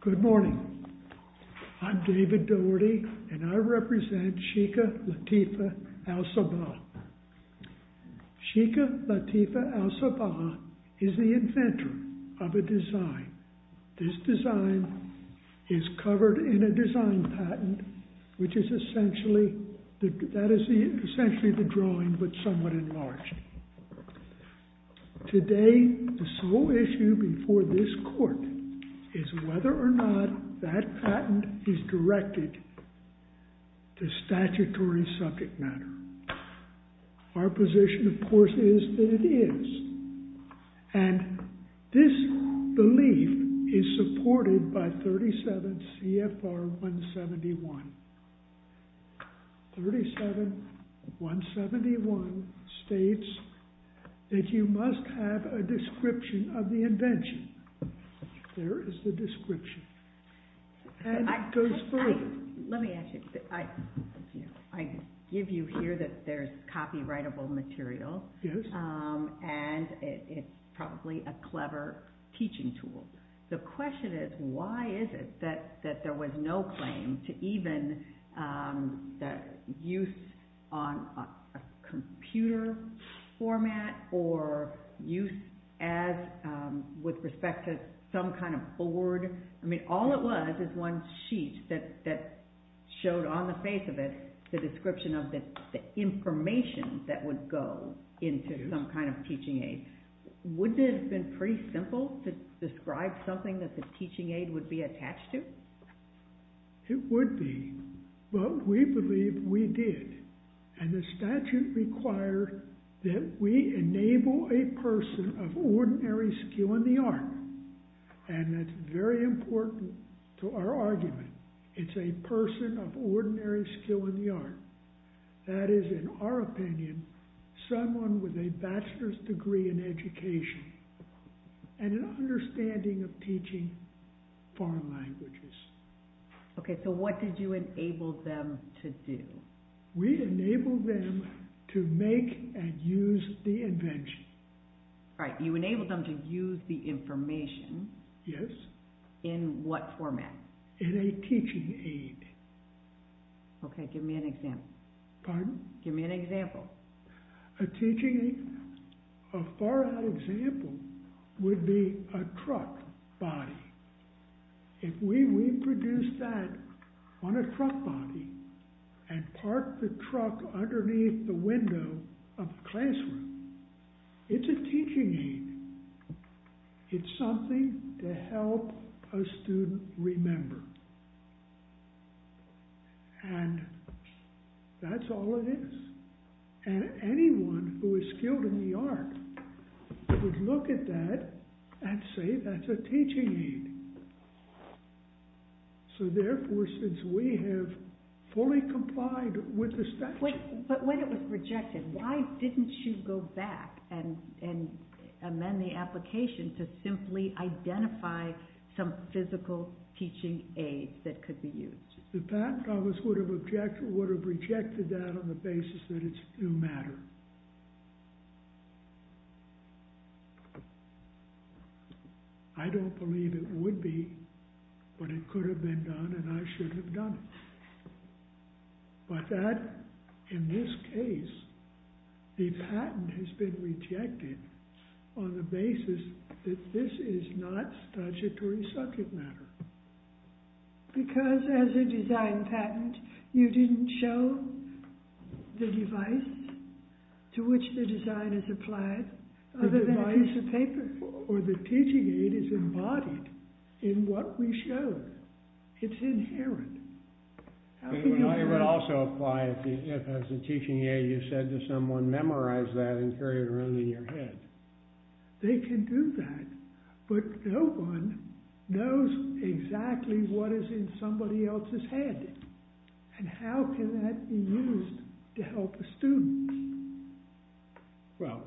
Good morning, I'm David Dougherty and I represent Sheikah Latifah Al-Sabah. Sheikah Latifah Al-Sabah is the inventor of a design. This design is covered in a design patent which is essentially, that is essentially the drawing but somewhat enlarged. Today the sole issue before this court is whether or not that our position of course is that it is. And this belief is supported by 37 C.F.R. 171. 37.171 states that you must have a description of the invention. There is the description. Let me ask you, I give you here that there's copyrightable material and it's probably a clever teaching tool. The question is why is it that there was no claim to even that use on a computer format or use as with respect to some kind of board. I mean all it was is one sheet that showed on the face of it the description of the information that would go into some kind of teaching aid. Wouldn't it have been pretty simple to describe something that the teaching aid would be attached to? It would be but we believe we did and the statute required that we enable a person of ordinary skill in the art and that's very important to our argument. It's a person of ordinary skill in the art. That is in our opinion someone with a bachelor's degree in education and an understanding of teaching foreign languages. Okay so what did you enable them to do? We enabled them to make and use the invention. Right, you enabled them to use the information. Yes. In what format? In a teaching aid. Okay give me an example. Pardon? Give me an example. A teaching aid, a far out example would be a truck body. If we reproduce that on a truck body and park the truck underneath the window of a classroom, it's a teaching aid. It's something to help a student remember and that's all it is. And anyone who is skilled in the art would look at that and say that's a teaching aid. So therefore since we have fully complied with the statute. But when it was rejected, why didn't you go back and amend the application to simply identify some physical teaching aid that could be used? The patent office would have rejected that on the basis that it's a new matter. I don't believe it would be but it could have been done and I should have done it. But in this case the patent has been rejected on the basis that this is not statutory subject matter. Because as a design patent you didn't show the device to which the design is applied other than a piece of paper. Or the teaching aid is embodied in what we show. It's inherent. It would also apply if as a teaching aid you said to someone, memorize that and carry it around in your head. They can do that but no one knows exactly what is in somebody else's head. And how can that be used to help the student? Well,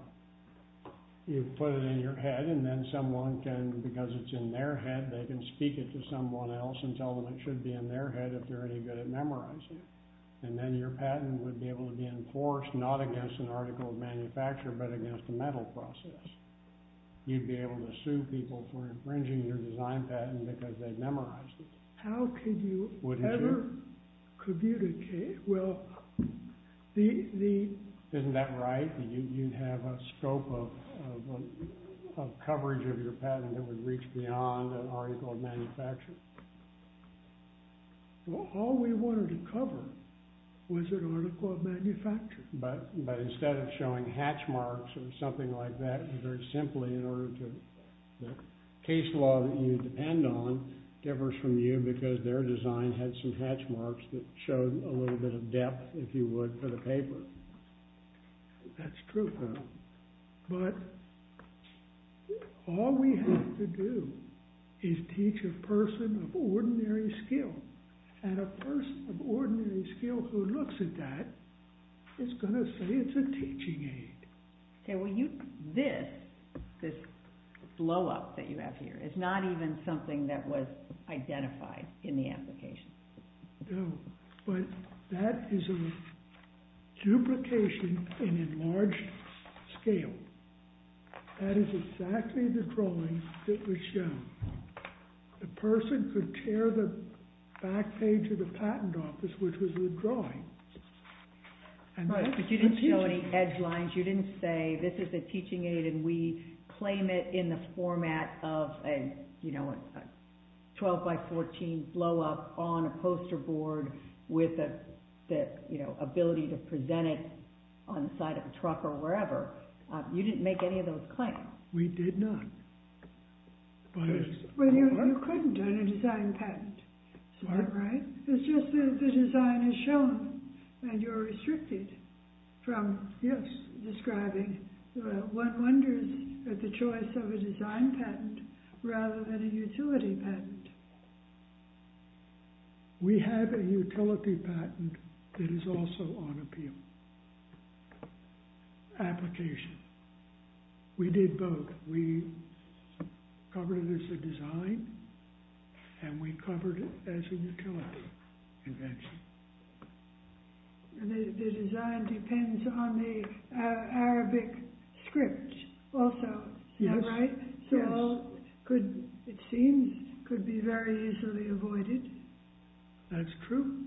you put it in your head and then someone can, because it's in their head, they can speak it to someone else and tell them it should be in their head if they're any good at memorizing it. And then your patent would be able to be enforced not against an article of manufacture but against a metal process. You'd be able to sue people for infringing your design patent because they've memorized it. How could you ever communicate? Well, isn't that right? You'd have a scope of coverage of your patent that would reach beyond an article of manufacture. Well, all we wanted to cover was an article of manufacture. But instead of showing hatch marks or something like that, very simply in order to, the case law that you depend on differs from you because their design had some hatch marks that showed a little bit of depth, if you would, for the paper. That's true. But all we have to do is teach a person of ordinary skill. And a person of ordinary skill who looks at that is going to say it's a teaching aid. Okay, well, this blow-up that you have here is not even something that was identified in the application. No, but that is a duplication in a large scale. That is exactly the drawing that was shown. The person could tear the back page of the patent office, which was the drawing. But you didn't show any edge lines. You didn't say this is a teaching aid and we claim it in the format of a 12 by 14 blow-up on a poster board with the ability to present it on the side of a truck or wherever. You didn't make any of those claims. We did not. But it's smart. But you couldn't do it in a design patent. Smart. It's just that the design is shown and you're restricted from describing one wonders at the choice of a design patent rather than a utility patent. We have a utility patent that is also on appeal. Application. We did both. We covered it as a design and we covered it as a utility invention. The design depends on the Arabic script also, is that right? Yes. So it seems it could be very easily avoided. That's true.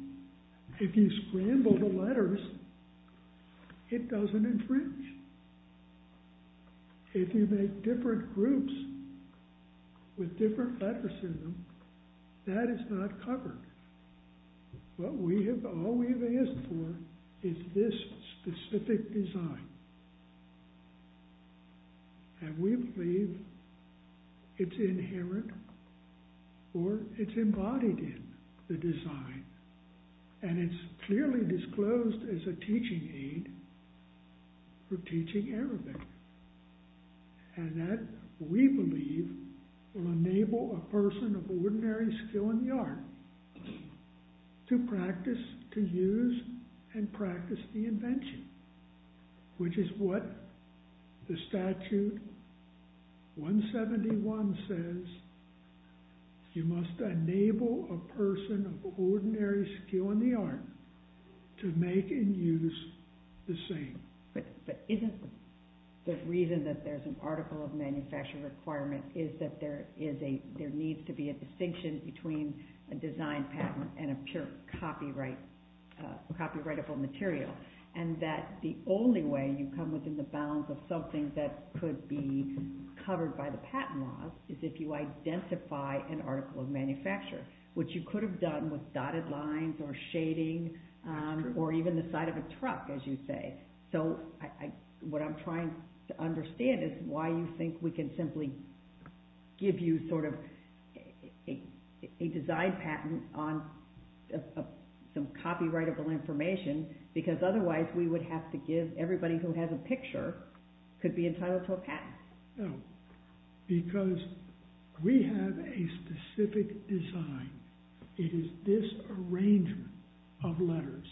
If you scramble the letters, it doesn't infringe. If you make different groups with different letters in them, that is not covered. All we've asked for is this specific design. And we believe it's inherent or it's embodied in the design. And it's clearly disclosed as a teaching aid for teaching Arabic. And that, we believe, will enable a person of ordinary skill in the art to practice, to use, and practice the invention. Which is what the statute 171 says. You must enable a person of ordinary skill in the art to make and use the same. But isn't the reason that there's an article of manufacturing requirement is that there needs to be a distinction between a design patent and a pure copyrightable material? And that the only way you come within the bounds of something that could be covered by the patent laws is if you identify an article of manufacture. Which you could have done with dotted lines or shading or even the side of a truck, as you say. So what I'm trying to understand is why you think we can simply give you sort of a design patent on some copyrightable information. Because otherwise we would have to give everybody who has a picture could be entitled to a patent. No, because we have a specific design. It is this arrangement of letters,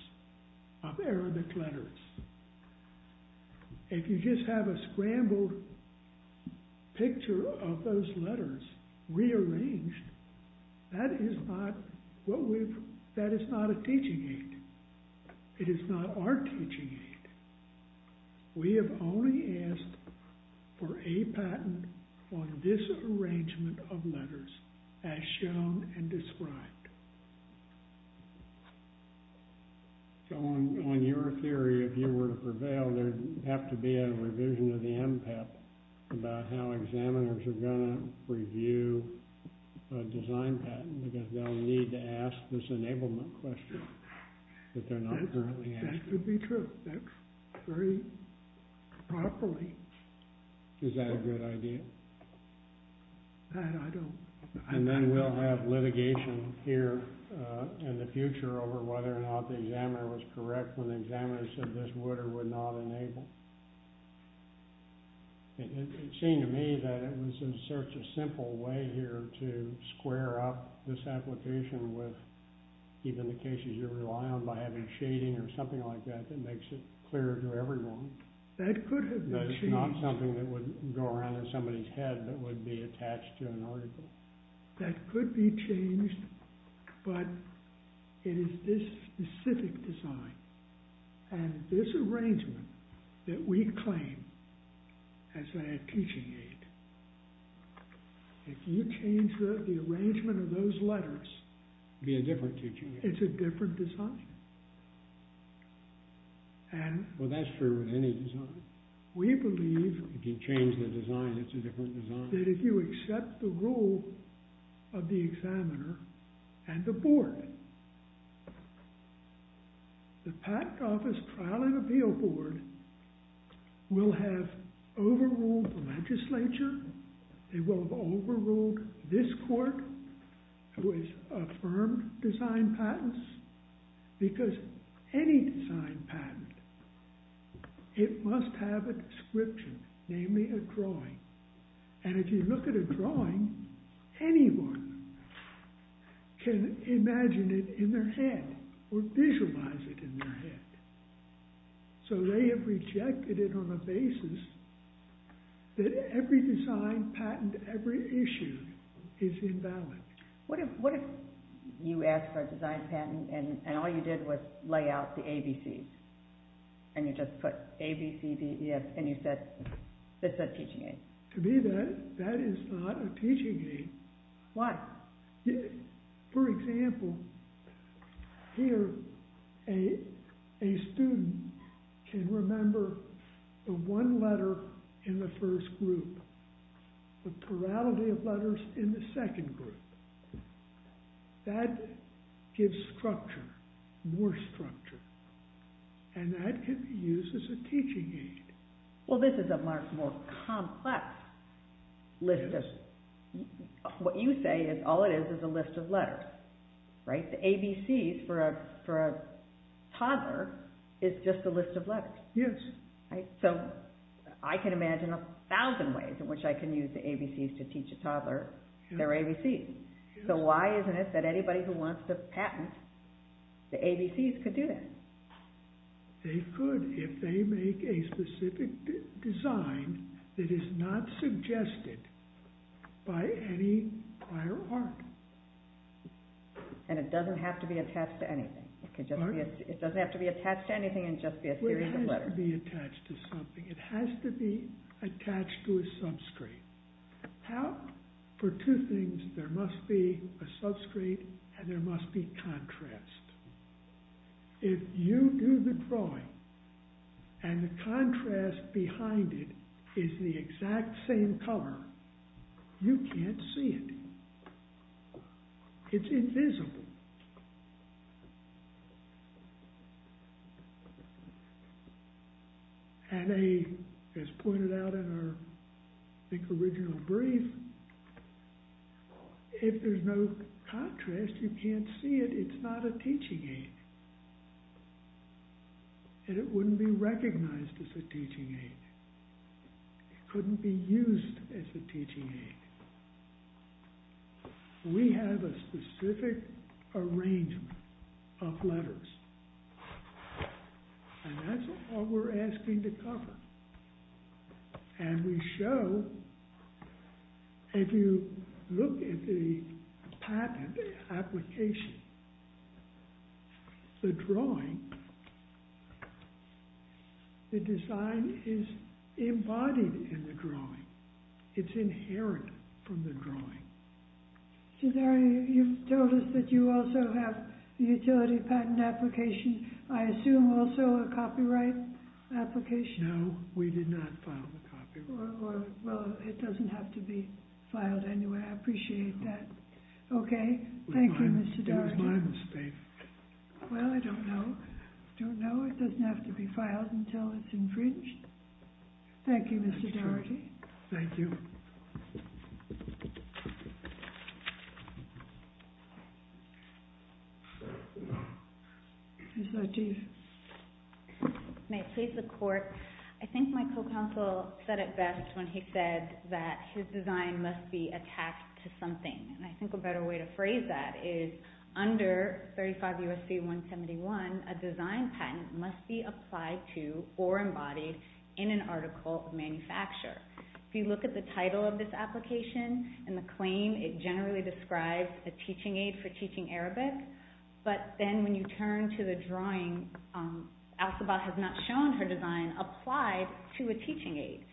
of Arabic letters. If you just have a scrambled picture of those letters rearranged, that is not a teaching aid. It is not our teaching aid. We have only asked for a patent on this arrangement of letters as shown and described. So on your theory, if you were to prevail, there would have to be a revision of the MPEP about how examiners are going to review a design patent. Because they'll need to ask this enablement question that they're not currently asking. That could be true. That's very probably. Is that a good idea? I don't... And then we'll have litigation here in the future over whether or not the examiner was correct when the examiner said this would or would not enable. It seemed to me that it was such a simple way here to square up this application with even the cases you rely on by having shading or something like that that makes it clearer to everyone. That could have been changed. That is not something that would go around in somebody's head that would be attached to an article. That could be changed, but it is this specific design. And this arrangement that we claim as a teaching aid, if you change the arrangement of those letters... It would be a different teaching aid. It's a different design. Well, that's true with any design. We believe... If you change the design, it's a different design. That if you accept the rule of the examiner and the board, the Patent Office Trial and Appeal Board will have overruled the legislature. They will have overruled this court, who has affirmed design patents. Because any design patent, it must have a description, namely a drawing. And if you look at a drawing, anyone can imagine it in their head or visualize it in their head. So they have rejected it on the basis that every design patent ever issued is invalid. What if you asked for a design patent and all you did was lay out the ABCs? And you just put ABCDES and you said it's a teaching aid? To me, that is not a teaching aid. Why? For example, here a student can remember the one letter in the first group, the plurality of letters in the second group. That gives structure, more structure. And that can be used as a teaching aid. Well, this is a much more complex list. What you say is all it is is a list of letters. The ABCs for a toddler is just a list of letters. So I can imagine a thousand ways in which I can use the ABCs to teach a toddler their ABCs. So why isn't it that anybody who wants to patent the ABCs could do that? They could if they make a specific design that is not suggested by any prior art. And it doesn't have to be attached to anything. It doesn't have to be attached to anything and just be a series of letters. It has to be attached to something. It has to be attached to a substrate. How? For two things, there must be a substrate and there must be contrast. If you do the drawing and the contrast behind it is the exact same color, you can't see it. It's invisible. And as pointed out in our, I think, original brief, if there's no contrast, you can't see it. It's not a teaching aid. And it wouldn't be recognized as a teaching aid. It couldn't be used as a teaching aid. We have a specific arrangement of letters. And that's all we're asking to cover. And we show, if you look at the patent application, the drawing, the design is embodied in the drawing. It's inherent from the drawing. Mr. Daugherty, you told us that you also have a utility patent application. I assume also a copyright application. No, we did not file the copyright. Well, it doesn't have to be filed anyway. I appreciate that. Okay. Thank you, Mr. Daugherty. It was my mistake. Well, I don't know. I don't know. It doesn't have to be filed until it's infringed. Thank you, Mr. Daugherty. Thank you. Thank you. Ms. Lateef. May it please the Court, I think my co-counsel said it best when he said that his design must be attached to something. And I think a better way to phrase that is, under 35 U.S.C. 171, a design patent must be applied to or embodied in an article of manufacture. If you look at the title of this application and the claim, it generally describes a teaching aid for teaching Arabic. But then when you turn to the drawing, Al-Sabah has not shown her design applied to a teaching aid.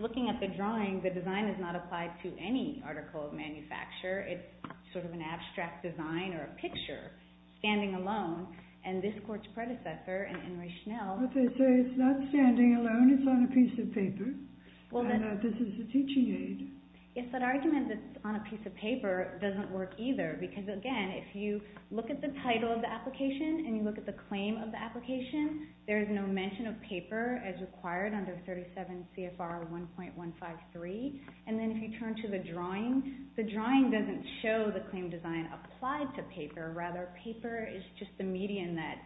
Looking at the drawing, the design is not applied to any article of manufacture. It's sort of an abstract design or a picture, standing alone. And this Court's predecessor, Henry Schnell… Yes, that argument that it's on a piece of paper doesn't work either. Because, again, if you look at the title of the application and you look at the claim of the application, there is no mention of paper as required under 37 CFR 1.153. And then if you turn to the drawing, the drawing doesn't show the claim design applied to paper. Rather, paper is just the median that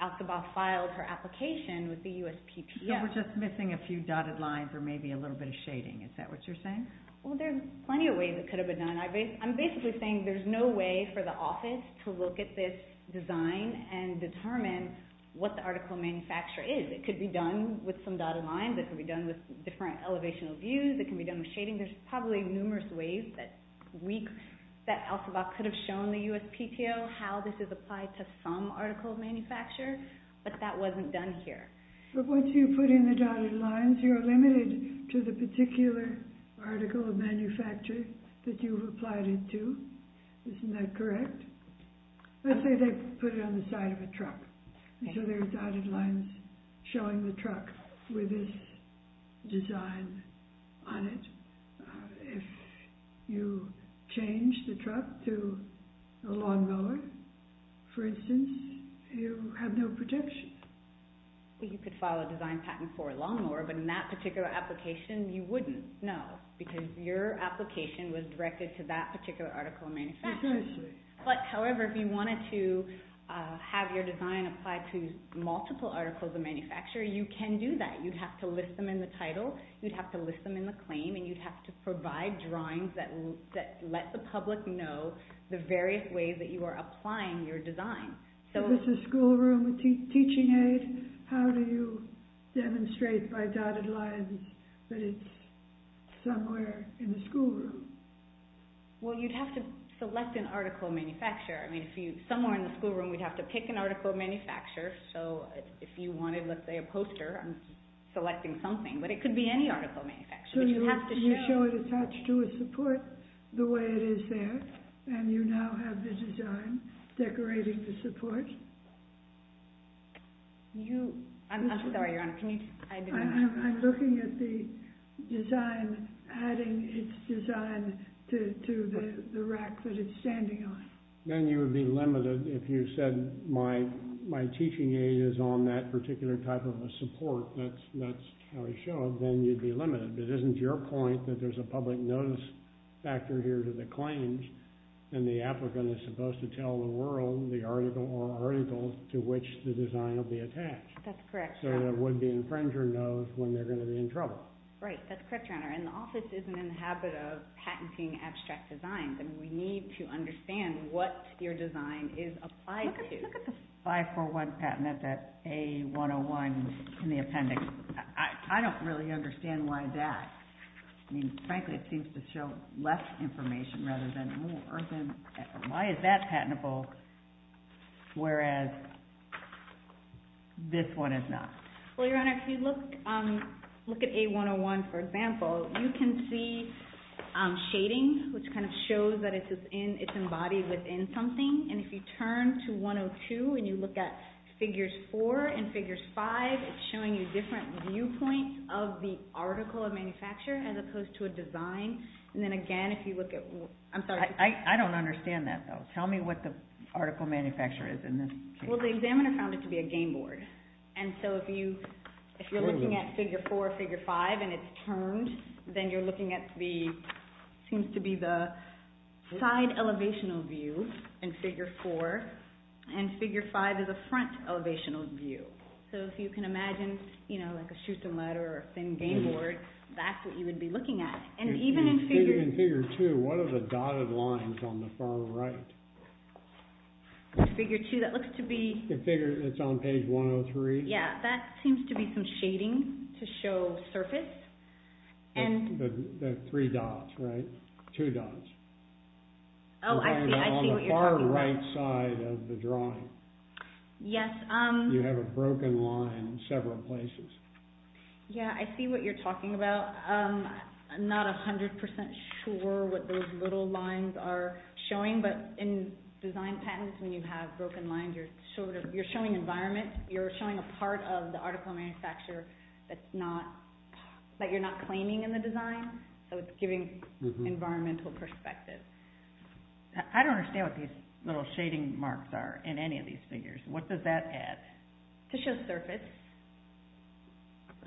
Al-Sabah filed her application with the USPTO. So we're just missing a few dotted lines or maybe a little bit of shading. Is that what you're saying? Well, there are plenty of ways it could have been done. I'm basically saying there's no way for the office to look at this design and determine what the article of manufacture is. It could be done with some dotted lines. It could be done with different elevational views. It can be done with shading. There's probably numerous ways that Al-Sabah could have shown the USPTO how this is applied to some article of manufacture. But that wasn't done here. But once you put in the dotted lines, you're limited to the particular article of manufacture that you've applied it to. Isn't that correct? Let's say they put it on the side of a truck. So there are dotted lines showing the truck with this design on it. If you change the truck to a lawnmower, for instance, you have no protection. You could file a design patent for a lawnmower, but in that particular application, you wouldn't. No, because your application was directed to that particular article of manufacture. But, however, if you wanted to have your design applied to multiple articles of manufacture, you can do that. You'd have to list them in the title. You'd have to list them in the claim. And you'd have to provide drawings that let the public know the various ways that you are applying your design. If it's a schoolroom, a teaching aid, how do you demonstrate by dotted lines that it's somewhere in the schoolroom? Well, you'd have to select an article of manufacture. I mean, somewhere in the schoolroom, we'd have to pick an article of manufacture. So if you wanted, let's say, a poster, I'm selecting something. But it could be any article of manufacture. So you show it attached to a support the way it is there, and you now have the design decorating the support. I'm looking at the design, adding its design to the rack that it's standing on. Then you would be limited if you said, my teaching aid is on that particular type of a support. That's how we show it. Well, then you'd be limited. It isn't your point that there's a public notice factor here to the claims, and the applicant is supposed to tell the world the article or articles to which the design will be attached. That's correct, Your Honor. So there would be an infringer note when they're going to be in trouble. Right, that's correct, Your Honor. And the office isn't in the habit of patenting abstract designs. And we need to understand what your design is applied to. Look at the 541 patent at that A101 in the appendix. I don't really understand why that. Frankly, it seems to show less information rather than more. Why is that patentable, whereas this one is not? Well, Your Honor, if you look at A101, for example, you can see shading, which kind of shows that it's embodied within something. And if you turn to 102 and you look at figures 4 and figures 5, it's showing you different viewpoints of the article of manufacture as opposed to a design. And then again, if you look at... I don't understand that, though. Tell me what the article of manufacture is in this case. Well, the examiner found it to be a game board. And so if you're looking at figure 4 or figure 5 and it's turned, then you're looking at what seems to be the side elevational view in figure 4. And figure 5 is a front elevational view. So if you can imagine, you know, like a chute and ladder or a thin game board, that's what you would be looking at. And even in figure 2, what are the dotted lines on the far right? Figure 2, that looks to be... It's on page 103. Yeah, that seems to be some shading to show surface. The three dots, right? Two dots. Oh, I see what you're talking about. On the far right side of the drawing. Yes. You have a broken line in several places. Yeah, I see what you're talking about. I'm not 100% sure what those little lines are showing, but in design patents, when you have broken lines, you're showing environment. You're showing a part of the article of manufacture that you're not claiming in the design, so it's giving environmental perspective. I don't understand what these little shading marks are in any of these figures. What does that add? To show surface.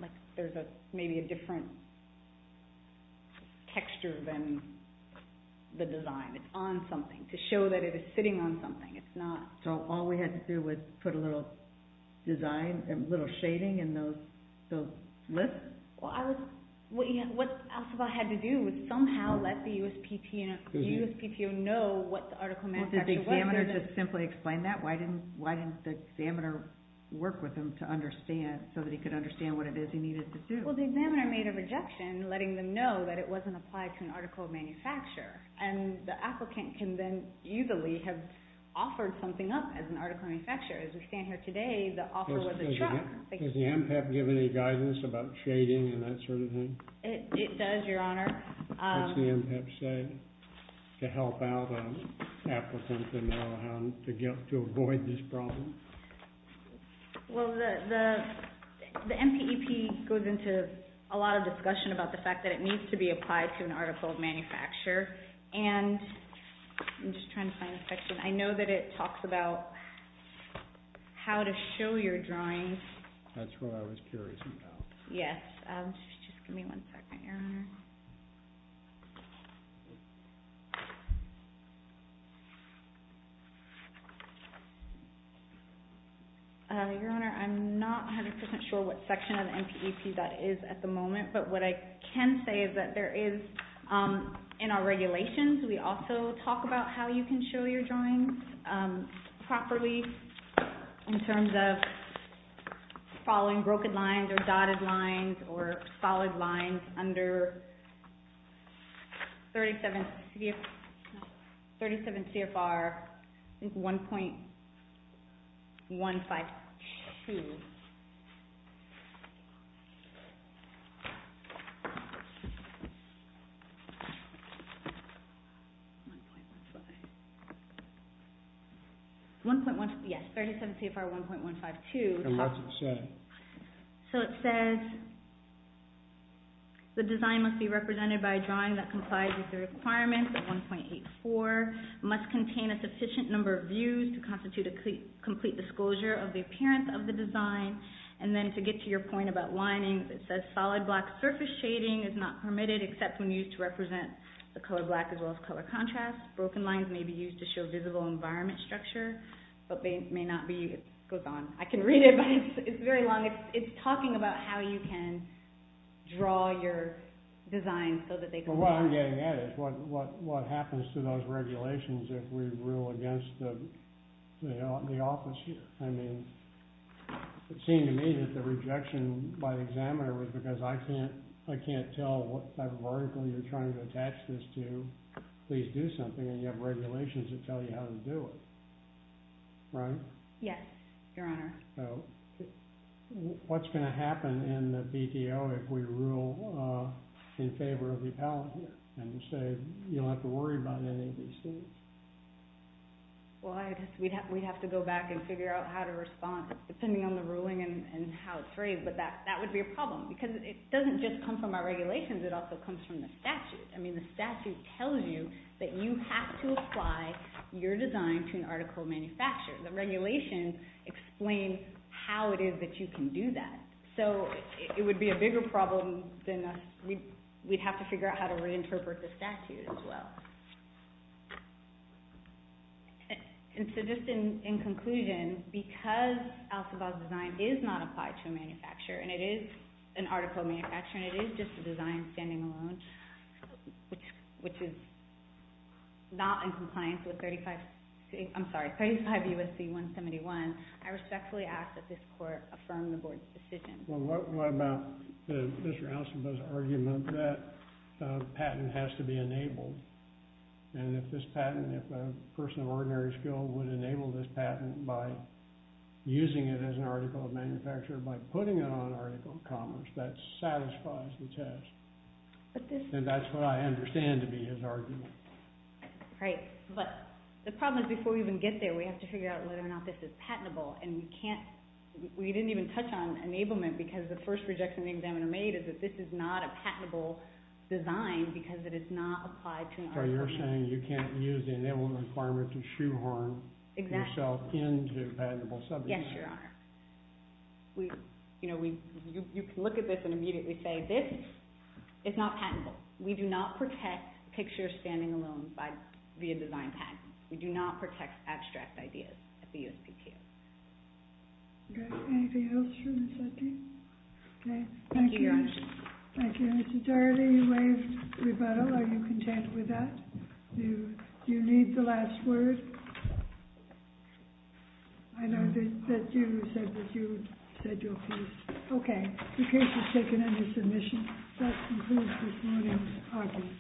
Like there's maybe a different texture than the design. It's on something. To show that it is sitting on something. So all we had to do was put a little design, a little shading in those lists? Well, what Elphaba had to do was somehow let the USPTO know what the article of manufacture was. Well, did the examiner just simply explain that? Why didn't the examiner work with him to understand so that he could understand what it is he needed to do? Well, the examiner made a rejection, letting them know that it wasn't applied to an article of manufacture, and the applicant can then easily have offered something up as an article of manufacture. As we stand here today, the offer was a truck. Does the MPEP give any guidance about shading and that sort of thing? It does, Your Honor. What does the MPEP say to help out applicants to know how to avoid this problem? Well, the MPEP goes into a lot of discussion about the fact that it needs to be applied to an article of manufacture. And I'm just trying to find a section. I know that it talks about how to show your drawings. That's what I was curious about. Just give me one second, Your Honor. Your Honor, I'm not 100% sure what section of the MPEP that is at the moment, but what I can say is that there is, in our regulations, we also talk about how you can show your drawings properly in terms of following broken lines or dotted lines or solid lines under 37 CFR 1.152. Yes, 37 CFR 1.152. And what's it say? So it says, The design must be represented by a drawing that complies with the requirements of 1.84, must contain a sufficient number of views to constitute a complete disclosure of the appearance of the design, and then to get to your point about lining, it says solid black surface shading is not permitted except when used to represent the color black as well as color contrast. Broken lines may be used to show visible environment structure, but may not be. It goes on. I can read it, but it's very long. It's talking about how you can draw your design so that they comply. But what I'm getting at is what happens to those regulations if we rule against the office here? I mean, it seemed to me that the rejection by the examiner was because I can't tell what type of article you're trying to attach this to. Please do something, and you have regulations that tell you how to do it. Right? Yes, Your Honor. What's going to happen in the BDO if we rule in favor of the appellant here, and you say you don't have to worry about any of these things? Well, I guess we'd have to go back and figure out how to respond, depending on the ruling and how it's raised, but that would be a problem because it doesn't just come from our regulations. It also comes from the statute. I mean, the statute tells you that you have to apply your design to an article of manufacture. The regulations explain how it is that you can do that. So it would be a bigger problem than we'd have to figure out how to reinterpret the statute as well. And so just in conclusion, because Al-Sabah's design is not applied to a manufacturer, and it is an article of manufacture, and it is just a design standing alone, which is not in compliance with 35 U.S.C. 171, I respectfully ask that this Court affirm the Board's decision. Well, what about Mr. Al-Sabah's argument that a patent has to be enabled? And if this patent, if a person of ordinary skill would enable this patent by using it as an article of manufacture, by putting it on an article of commerce, that satisfies the test. And that's what I understand to be his argument. Right, but the problem is before we even get there, we have to figure out whether or not this is patentable. And we can't, we didn't even touch on enablement because the first rejection the examiner made is that this is not a patentable design because it is not applied to an article of manufacture. So you're saying you can't use the enablement requirement to shoehorn yourself into patentable subject matter. Yes, Your Honor. You know, you can look at this and immediately say this is not patentable. We do not protect picture standing alone via design patent. We do not protect abstract ideas at the USPTO. Okay, anything else from the subpoena? Okay, thank you. Thank you, Your Honor. Thank you. Mr. Darley, you waived rebuttal. Are you content with that? Do you need the last word? I know that you said that you said you're pleased. Okay, the case is taken under submission. That concludes this morning's argument.